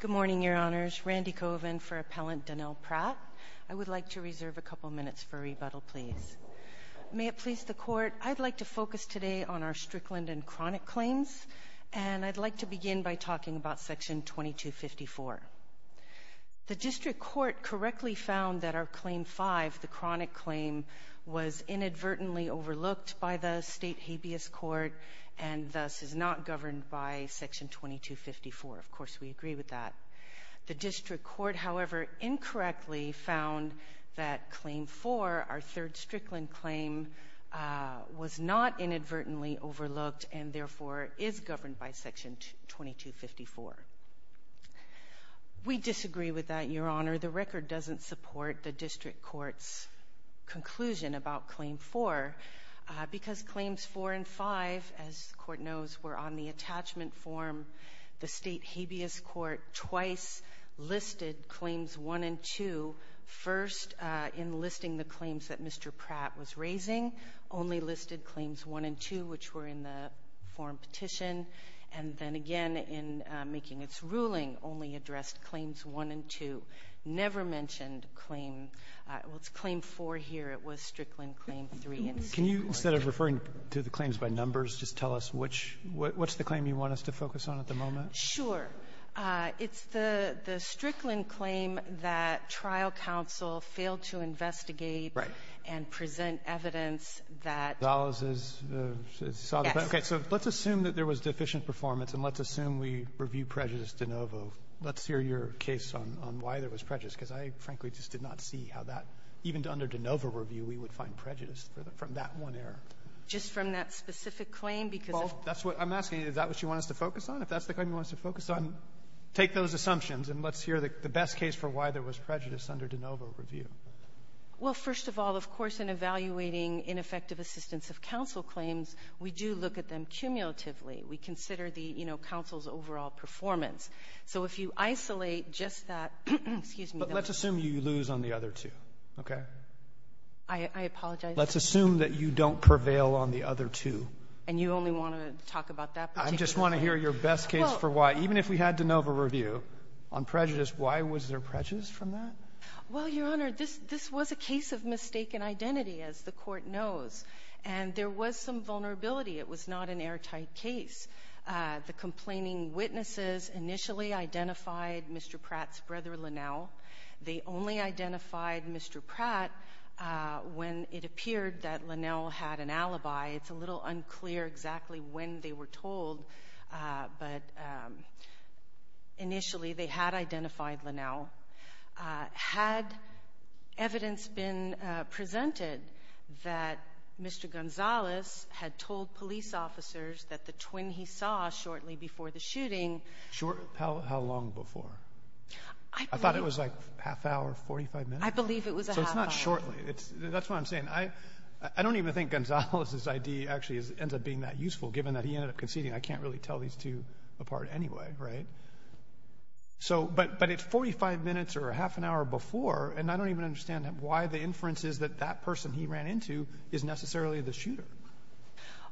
Good morning, Your Honours. Randy Kovan for Appellant Danell Pratt. I would like to reserve a couple minutes for rebuttal, please. May it please the Court, I'd like to focus today on our Strickland and Chronic claims and I'd like to begin by talking about Section 2254. The District Court correctly found that our Claim 5, the Chronic claim, was inadvertently overlooked by the State Habeas Court and thus is not governed by Section 2254. Of course, we agree with that. The District Court, however, incorrectly found that Claim 4, our third Strickland claim, was not inadvertently overlooked and therefore is governed by Section 2254. We disagree with that, Your Honour. The record doesn't support the District Court's conclusion about Claim 4 because Claims 4 and 5, as the Court knows, were on the attachment form. The State Habeas Court twice listed Claims 1 and 2, first in listing the claims that Mr. Pratt was raising, only listed Claims 1 and 2, which were in the form petition, and then again in making its ruling, only addressed Claims 1 and 2, never mentioned Claim — well, it's Claim 4 here. It was Strickland Claim 3 in Section 2254. Roberts, can you, instead of referring to the claims by numbers, just tell us which — what's the claim you want us to focus on at the moment? Sure. It's the Strickland claim that trial counsel failed to investigate. Right. And present evidence that — Dulles is solid. Yes. Okay. So let's assume that there was deficient performance, and let's assume we review Prejudice de novo. Let's hear your case on why there was prejudice, because I, frankly, just did not see how that — even under de novo review, we would find prejudice for the — from that one error. Just from that specific claim, because if — Well, that's what I'm asking you. Is that what you want us to focus on? If that's the claim you want us to focus on, take those assumptions, and let's hear the best case for why there was prejudice under de novo review. Well, first of all, of course, in evaluating ineffective assistance of counsel claims, we do look at them cumulatively. We consider the, you know, counsel's overall performance. So if you isolate just that — excuse me. But let's assume you lose on the other two, okay? I apologize. Let's assume that you don't prevail on the other two. And you only want to talk about that particular case. I just want to hear your best case for why. Even if we had de novo review on prejudice, why was there prejudice from that? Well, Your Honor, this — this was a case of mistaken identity, as the Court knows. And there was some vulnerability. It was not an airtight case. The complaining witnesses initially identified Mr. Pratt's brother, Linnell. They only identified Mr. Pratt when it appeared that Linnell had an alibi. It's a little unclear exactly when they were told, but initially they had identified Linnell. Had evidence been presented that Mr. Gonzalez had told police officers that the twin he saw shortly before the shooting — Short — how long before? I believe — I thought it was like a half hour, 45 minutes. I believe it was a half hour. So it's not shortly. That's what I'm saying. I don't even think Gonzalez's I.D. actually ends up being that useful, given that he ended up conceding. I can't really tell these two apart anyway, right? So — but it's 45 minutes or a half an hour before, and I don't even understand why the inference is that that person he ran into is necessarily the shooter.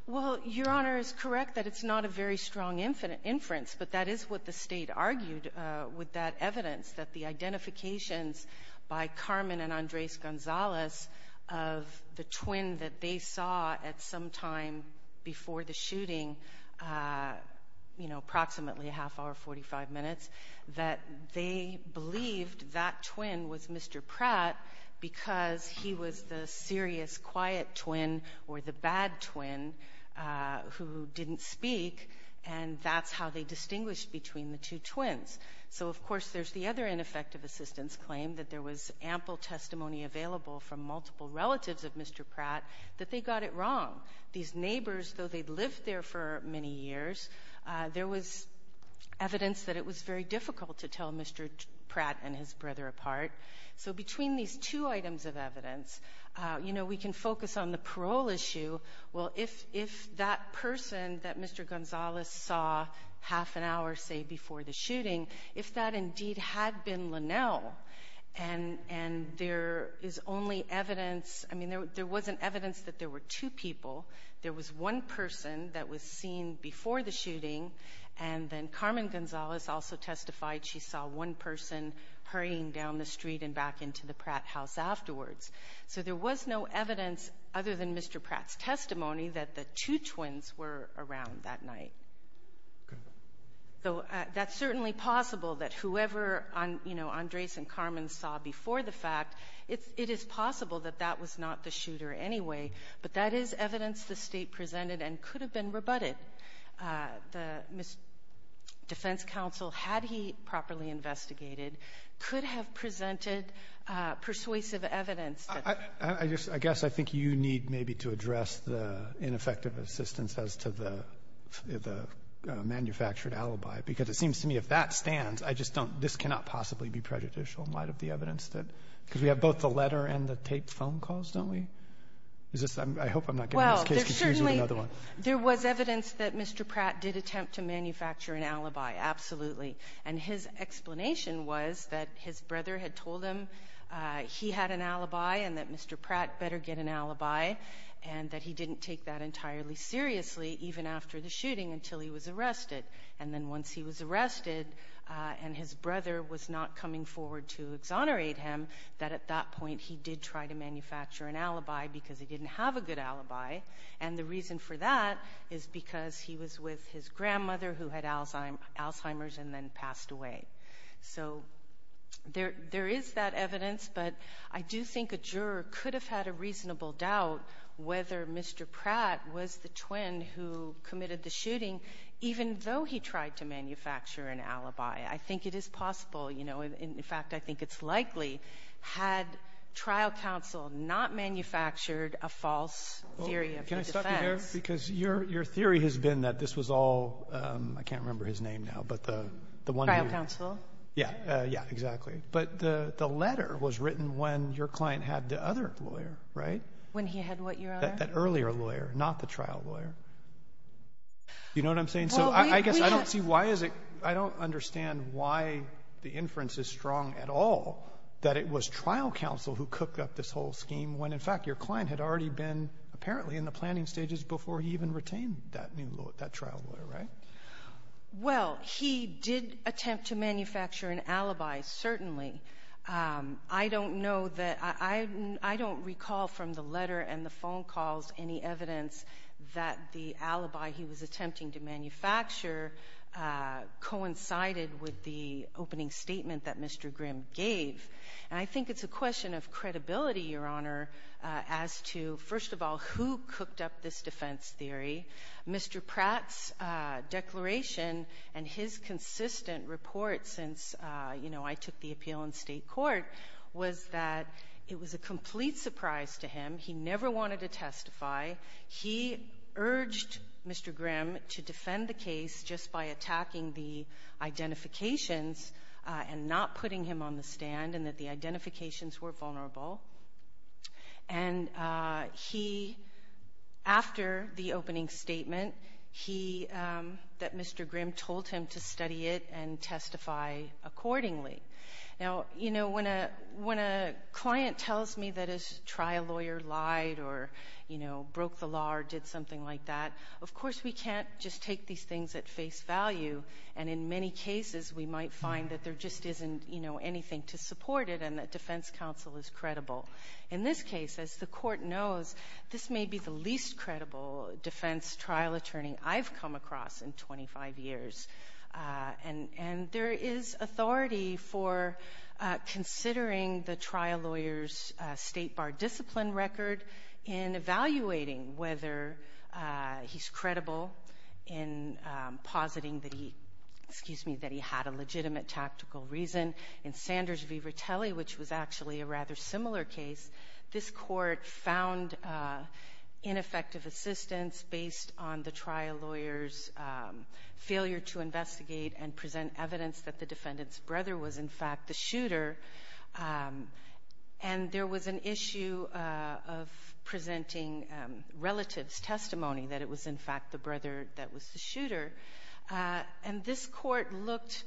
Well, Your Honor is correct that it's not a very strong inference, but that is what the State argued with that evidence, that the identifications by Carmen and Andres Gonzalez of the twin that they saw at some time before the shooting, you know, approximately a half hour, 45 minutes, that they believed that twin was Mr. Pratt because he was the serious, quiet twin, or the bad twin, who didn't speak, and that's how they distinguished between the two twins. So, of course, there's the other ineffective assistance claim that there was ample testimony available from multiple relatives of Mr. Pratt that they got it wrong. These neighbors, though they'd lived there for many years, there was evidence that it was very difficult to tell Mr. Pratt and his brother apart. So between these two items of evidence, you know, we can focus on the parole issue. Well, if that person that Mr. Gonzalez saw half an hour, say, before the shooting, if that indeed had been Linnell, and there is only evidence, I mean, there wasn't evidence that there were two people. There was one person that was seen before the shooting, and then Carmen Gonzalez also testified she saw one person hurrying down the street and back into the Pratt house afterwards. So there was no evidence, other than Mr. Pratt's testimony, that the two twins were around that night. So that's certainly possible that whoever, you know, Andres and Carmen saw before the fact, it is possible that that was not the shooter anyway. But that is evidence the state presented and could have been rebutted. The defense counsel, had he properly investigated, could have presented persuasive evidence. I guess I think you need maybe to address the ineffective assistance as to the manufactured alibi. Because it seems to me if that stands, I just don't, this cannot possibly be prejudicial in light of the evidence that, because we have both the letter and the tape phone calls, don't we? Is this, I hope I'm not getting this case confused with another one. There was evidence that Mr. Pratt did attempt to manufacture an alibi, absolutely. And his explanation was that his brother had told him he had an alibi and that Mr. Pratt better get an alibi. And that he didn't take that entirely seriously, even after the shooting, until he was arrested. And then once he was arrested and his brother was not coming forward to exonerate him, that at that point he did try to manufacture an alibi because he didn't have a good alibi. And the reason for that is because he was with his grandmother who had Alzheimer's and then passed away. So there is that evidence, but I do think a juror could have had a reasonable doubt whether Mr. Pratt was the twin who committed the shooting, even though he tried to manufacture an alibi. I think it is possible, in fact I think it's likely, had trial counsel not manufactured a false theory of defense. Can I stop you there? Because your theory has been that this was all, I can't remember his name now, but the one... Trial counsel. Yeah, exactly. But the letter was written when your client had the other lawyer, right? When he had what, Your Honor? You know what I'm saying? I guess I don't see why is it, I don't understand why the inference is strong at all that it was trial counsel who cooked up this whole scheme when in fact your client had already been apparently in the planning stages before he even retained that trial lawyer, right? Well, he did attempt to manufacture an alibi, certainly. I don't know that, I don't recall from the letter and the phone calls any evidence that the alibi he was attempting to manufacture coincided with the opening statement that Mr. Grimm gave. And I think it's a question of credibility, Your Honor, as to, first of all, who cooked up this defense theory. Mr. Pratt's declaration and his consistent report since I took the appeal in state court was that it was a complete surprise to him. He never wanted to testify. He urged Mr. Grimm to defend the case just by attacking the identifications and not putting him on the stand and that the identifications were vulnerable. And he, after the opening statement, he, that Mr. Grimm told him to study it and testify accordingly. Now, you know, when a client tells me that his trial lawyer lied or, you know, broke the law or did something like that, of course we can't just take these things at face value. And in many cases we might find that there just isn't, you know, anything to support it and that defense counsel is credible. In this case, as the court knows, this may be the least credible defense trial attorney I've come across in 25 years. And there is authority for considering the trial lawyer's state bar discipline record in evaluating whether he's credible in positing that he, excuse me, that he had a legitimate tactical reason. In Sanders v. Ratelli, which was actually a rather similar case, this court found ineffective assistance based on the trial lawyer's failure to investigate and present evidence that the defendant's brother was, in fact, the shooter. And there was an issue of presenting relatives' testimony that it was, in fact, the brother that was the shooter. And this court looked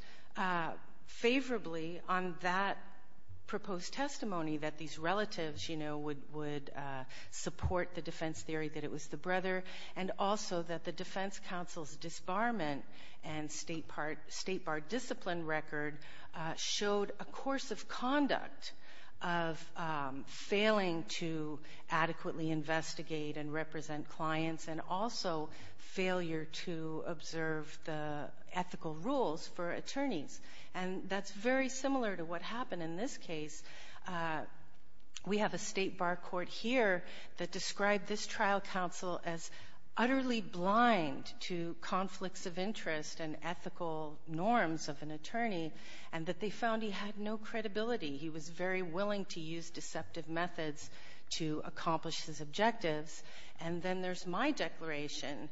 favorably on that proposed testimony, that these relatives, you know, would support the defense theory that it was the brother, and also that the defense counsel's disbarment and state bar discipline record showed a course of conduct of failing to adequately investigate and represent clients and also failure to observe the ethical rules for attorneys. And that's very similar to what happened in this case. We have a state bar court here that described this trial counsel as utterly blind to conflicts of interest and ethical norms of an attorney, and that they found he had no credibility. He was very willing to use deceptive methods to accomplish his objectives. And then there's my declaration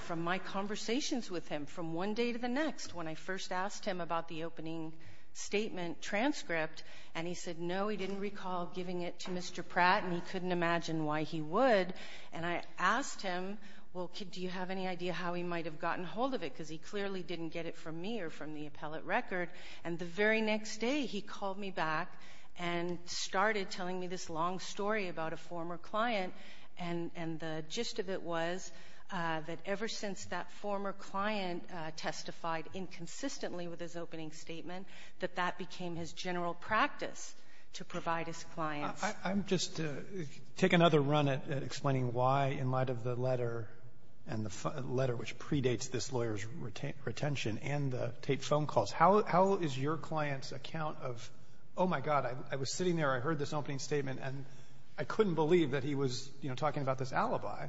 from my conversations with him from one day to the next, when I first asked him about the opening statement transcript, and he said, no, he didn't recall giving it to Mr. Pratt, and he couldn't imagine why he would. And I asked him, well, do you have any idea how he might have gotten hold of it? Because he clearly didn't get it from me or from the appellate record. And the very next day, he called me back and started telling me this long story about a former client, and the gist of it was that ever since that former client testified inconsistently with his opening statement, that that became his general practice to provide his clients. I'm just going to take another run at explaining why, in light of the letter, and the letter which predates this lawyer's retention and the taped phone calls, how is your client's account of, oh, my God, I was sitting there, I heard this opening statement, and I couldn't believe that he was talking about this alibi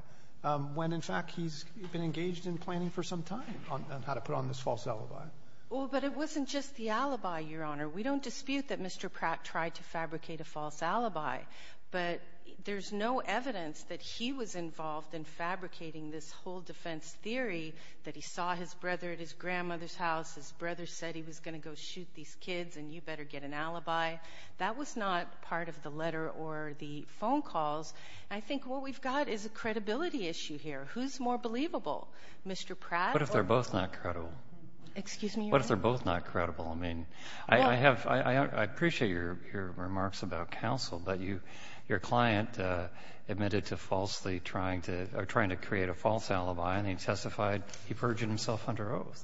when, in fact, he's been engaged in planning for some time on how to put on this false alibi. Well, but it wasn't just the alibi, Your Honor. We don't dispute that Mr. Pratt tried to fabricate a false alibi, but there's no evidence that he was involved in fabricating this whole defense theory that he saw his brother at his grandmother's house, his brother said he was going to go shoot these kids, and you better get an alibi. That was not part of the letter or the phone calls. I think what we've got is a credibility issue here. Who's more believable, Mr. Pratt or Pratt? What if they're both not credible? Excuse me, Your Honor? What if they're both not credible? I mean, I appreciate your remarks about counsel, but your client admitted to falsely trying to create a false alibi, and he testified he purged himself under oath.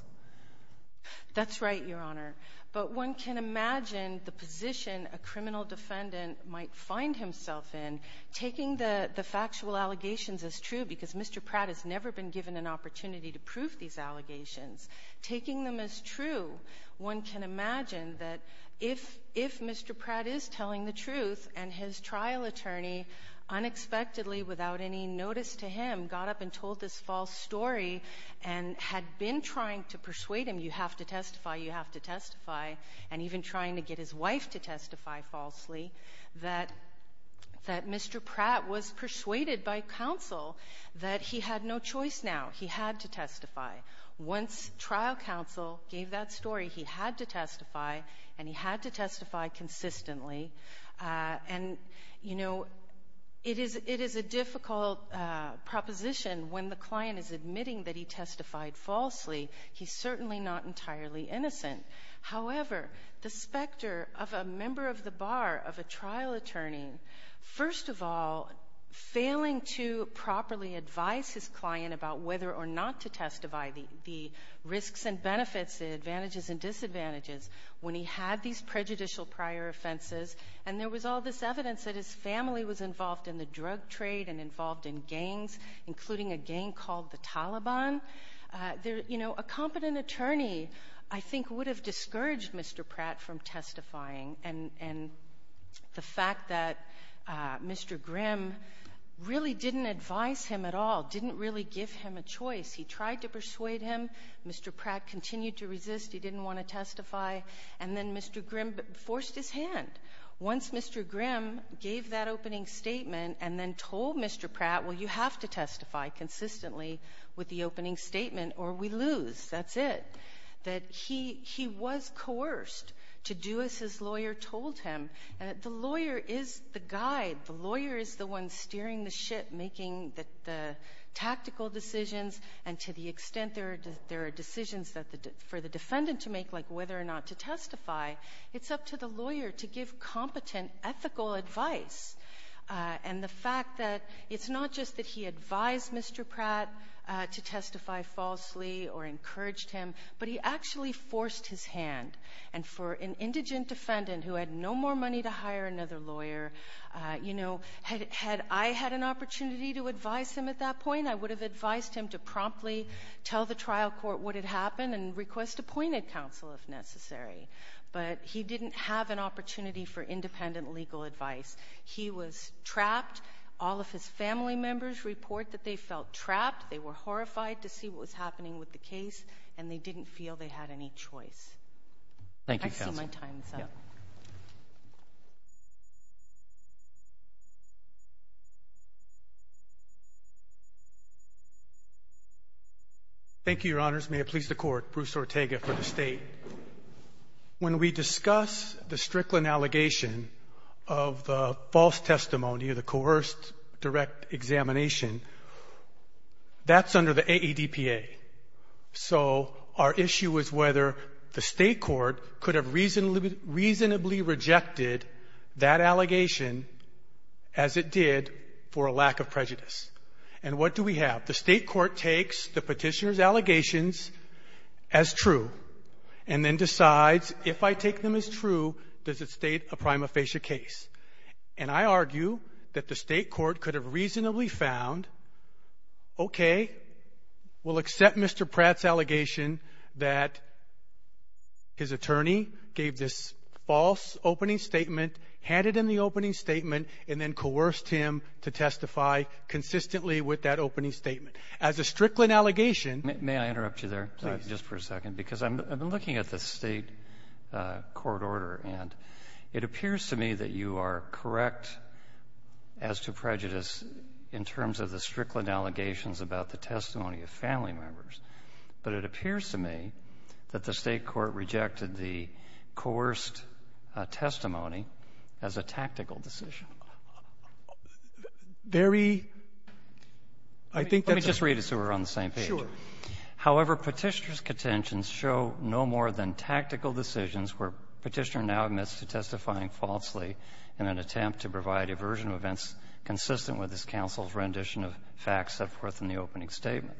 That's right, Your Honor. But one can imagine the position a criminal defendant might find himself in, taking the factual allegations as true, because Mr. Pratt has never been given an opportunity to prove these allegations. Taking them as true, one can imagine that if Mr. Pratt is telling the truth, and his trial attorney unexpectedly, without any notice to him, got up and told this false story, and had been trying to persuade him, you have to testify, you have to testify, and even trying to get his wife to testify falsely, that Mr. Pratt was persuaded by counsel that he had no choice now. He had to testify. Once trial counsel gave that story, he had to testify, and he had to testify consistently. And, you know, it is a difficult proposition when the client is admitting that he testified falsely. He's certainly not entirely innocent. However, the specter of a member of the bar, of a trial attorney, first of all, failing to properly advise his client about whether or not to testify, the risks and benefits, the advantages and disadvantages, when he had these prejudicial prior offenses, and there was all this evidence that his family was involved in the drug trade, and involved in gangs, including a gang called the Taliban, you know, a competent attorney, I think, would have discouraged Mr. Pratt from testifying, and the fact that Mr. Grimm really didn't advise him at all, didn't really give him a choice. He tried to persuade him. Mr. Pratt continued to resist. He didn't want to testify. And then Mr. Grimm forced his hand. Once Mr. Grimm gave that opening statement, and then told Mr. Pratt, well, you have to testify consistently, with the opening statement, or we lose. That's it. That he was coerced to do as his lawyer told him. The lawyer is the guide. The lawyer is the one steering the ship, making the tactical decisions, and to the extent there are decisions for the defendant to make, like whether or not to testify, it's up to the lawyer to give competent, ethical advice. And the fact that it's not just that he advised Mr. Pratt to testify falsely, or encouraged him, but he actually forced his hand. And for an indigent defendant who had no more money to hire another lawyer, you know, had I had an opportunity to advise him at that point, I would have advised him to promptly tell the trial court what had happened, and request appointed counsel if necessary. But he didn't have an opportunity for independent legal advice. He was trapped. All of his family members report that they felt trapped. They were horrified to see what was happening with the case, and they didn't feel they had any choice. Thank you, Counsel. I see my time's up. Thank you, Your Honors. May it please the Court, Bruce Ortega for the State. When we discuss the Strickland allegation of the false testimony or the coerced direct examination, that's under the AADPA. So our issue is whether the State court could have reasonably rejected that allegation as it did for a lack of prejudice. And what do we have? The State court takes the Petitioner's allegations as true. And then decides, if I take them as true, does it state a prima facie case? And I argue that the State court could have reasonably found, okay, we'll accept Mr. Pratt's allegation that his attorney gave this false opening statement, had it in the opening statement, and then coerced him to testify consistently with that opening statement. As a Strickland allegation — May I interrupt you there, please, just for a second? Because I'm looking at the State court order, and it appears to me that you are correct as to prejudice in terms of the Strickland allegations about the testimony of family members. But it appears to me that the State court rejected the coerced testimony as a tactical decision. Very — I think that's — Let me just read it so we're on the same page. Sure. However, Petitioner's contentions show no more than tactical decisions where Petitioner now admits to testifying falsely in an attempt to provide a version of events consistent with his counsel's rendition of facts set forth in the opening statement.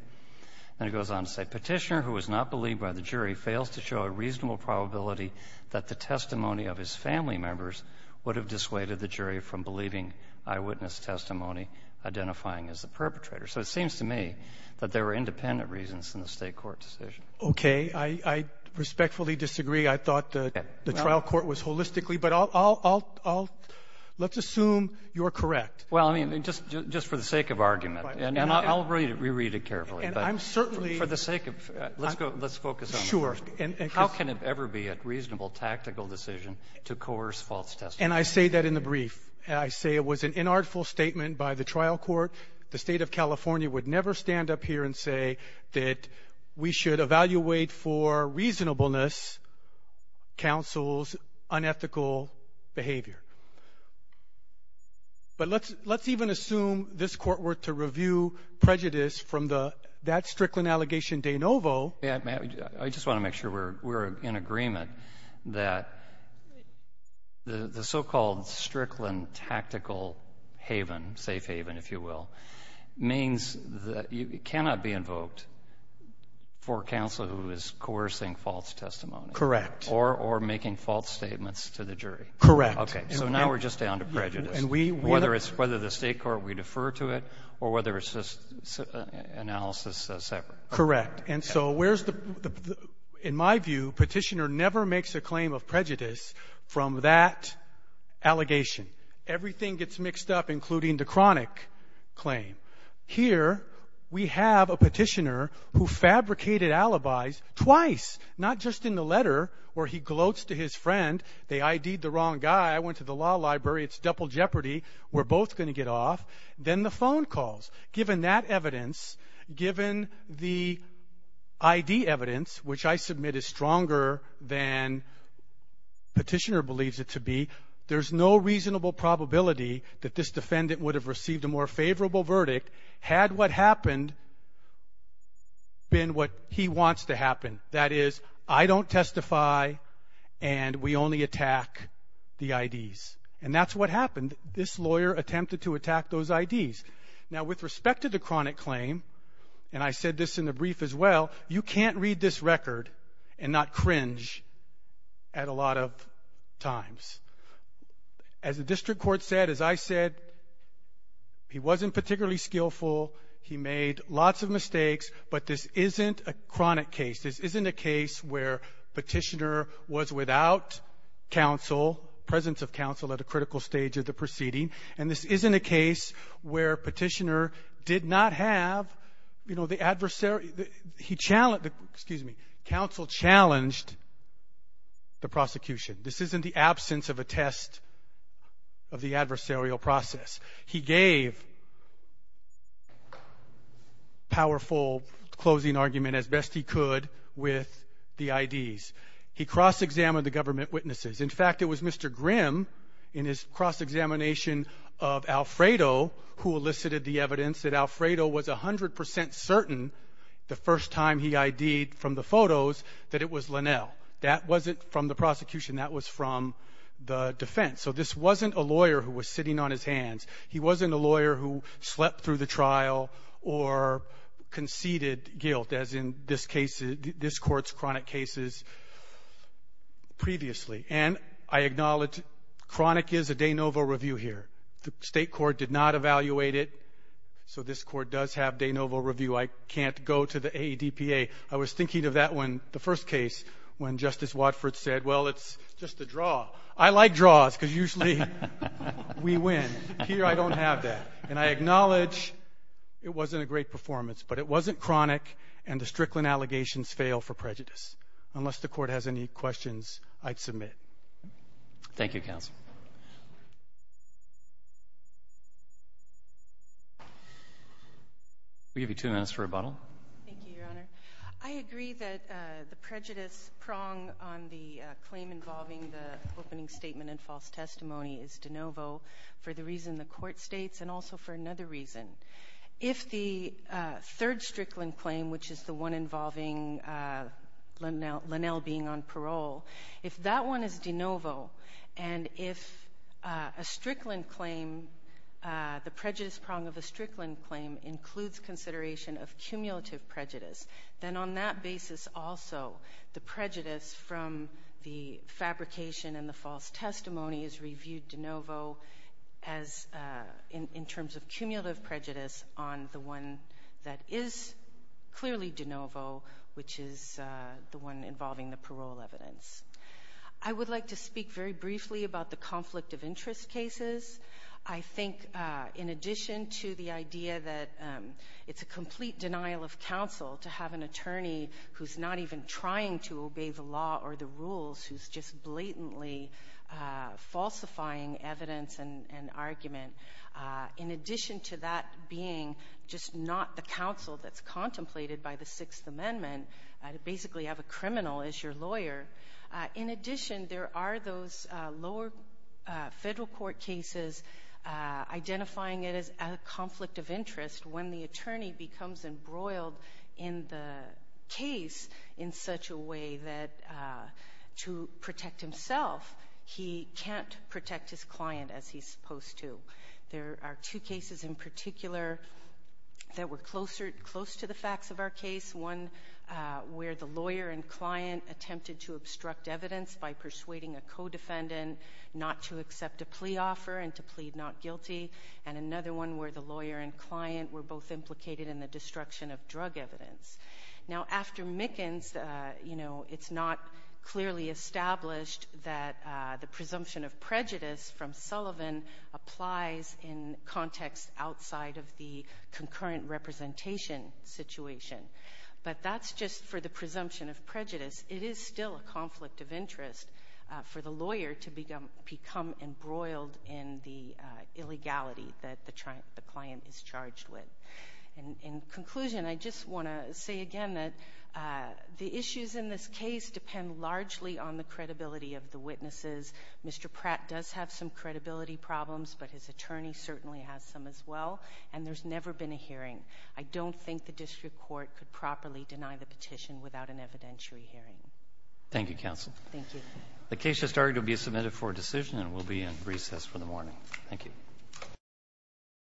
And it goes on to say, Petitioner, who was not believed by the jury, fails to show a reasonable probability that the testimony of his family members would have dissuaded the jury from believing eyewitness testimony identifying as the perpetrator. So it seems to me that there were independent reasons in the State court decision. Okay. I respectfully disagree. I thought the trial court was holistically. But I'll — let's assume you're correct. Well, I mean, just for the sake of argument, and I'll re-read it carefully. And I'm certainly — For the sake of — let's go — let's focus on — Sure. How can it ever be a reasonable tactical decision to coerce false testimony? And I say that in the brief. I say it was an inartful statement by the trial court. The State of California would never stand up here and say that we should evaluate for reasonableness counsel's unethical behavior. But let's even assume this Court were to review prejudice from the — that Strickland allegation de novo. I just want to make sure we're in agreement that the so-called Strickland tactical haven, safe haven, if you will, means that it cannot be invoked for counsel who is coercing false testimony. Correct. Or making false statements to the jury. Correct. Okay. So now we're just down to prejudice. And we — Whether it's — whether the State court would defer to it or whether it's just analysis separate. Correct. And so where's the — in my view, Petitioner never makes a claim of prejudice from that allegation. Everything gets mixed up, including the chronic claim. Here, we have a Petitioner who fabricated alibis twice. Not just in the letter where he gloats to his friend. They ID'd the wrong guy. I went to the law library. It's double jeopardy. We're both going to get off. Then the phone calls. Given that evidence, given the ID evidence, which I submit is stronger than Petitioner believes it to be, there's no reasonable probability that this defendant would have received a more favorable verdict had what happened been what he wants to happen. That is, I don't testify and we only attack the IDs. And that's what happened. This lawyer attempted to attack those IDs. Now, with respect to the chronic claim, and I said this in the brief as well, you can't read this record and not cringe at a lot of times. As the district court said, as I said, he wasn't particularly skillful. He made lots of mistakes. But this isn't a chronic case. This isn't a case where Petitioner was without counsel, presence of counsel, at a critical stage of the proceeding. And this isn't a case where Petitioner did not have, you know, the adversary — excuse me, counsel challenged the prosecution. This isn't the absence of a test of the adversarial process. He gave powerful closing argument as best he could with the IDs. He cross-examined the government witnesses. In fact, it was Mr. Grimm, in his cross-examination of Alfredo, who elicited the evidence that Alfredo was 100 percent certain, the first time he ID'd from the photos, that it was Linnell. That wasn't from the prosecution. That was from the defense. So this wasn't a lawyer who was sitting on his hands. He wasn't a lawyer who slept through the trial or conceded guilt, as in this court's chronic cases previously. And I acknowledge chronic is a de novo review here. The State court did not evaluate it, so this court does have de novo review. I can't go to the AEDPA. I was thinking of that one, the first case, when Justice Watford said, well, it's just a draw. I like draws because usually we win. Here I don't have that. And I acknowledge it wasn't a great performance, but it wasn't chronic, and the Strickland allegations fail for prejudice, unless the court has any questions I'd submit. Thank you, Counsel. We'll give you two minutes for rebuttal. Thank you, Your Honor. I agree that the prejudice prong on the claim involving the opening statement and false testimony is de novo for the reason the court states and also for another reason. If the third Strickland claim, which is the one involving Linnell being on parole, if that one is de novo and if a Strickland claim, the prejudice prong of a Strickland claim, includes consideration of cumulative prejudice, then on that basis also the prejudice from the fabrication and the false testimony is reviewed de novo in terms of cumulative prejudice on the one that is clearly de novo, which is the one involving the parole evidence. I would like to speak very briefly about the conflict of interest cases. I think in addition to the idea that it's a complete denial of counsel to have an attorney who's not even trying to obey the law or the rules, who's just blatantly falsifying evidence and argument, in addition to that being just not the counsel that's contemplated by the Sixth Amendment, to basically have a criminal as your lawyer, in addition there are those lower federal court cases identifying it as a conflict of interest when the attorney becomes embroiled in the case in such a way that to protect himself, he can't protect his client as he's supposed to. There are two cases in particular that were close to the facts of our case, one where the lawyer and client attempted to obstruct evidence by persuading a co-defendant not to accept a plea offer and to plead not guilty, and another one where the lawyer and client were both implicated in the destruction of drug evidence. Now after Mickens, you know, it's not clearly established that the presumption of prejudice from Sullivan applies in context outside of the concurrent representation situation, but that's just for the presumption of prejudice. It is still a conflict of interest for the lawyer to become embroiled in the illegality that the client is charged with. In conclusion, I just want to say again that the issues in this case depend largely on the credibility of the witnesses. Mr. Pratt does have some credibility problems, but his attorney certainly has some as well, and there's never been a hearing. I don't think the district court could properly deny the petition without an evidentiary hearing. Thank you, counsel. Thank you. The case has started to be submitted for decision and will be in recess for the morning. Thank you.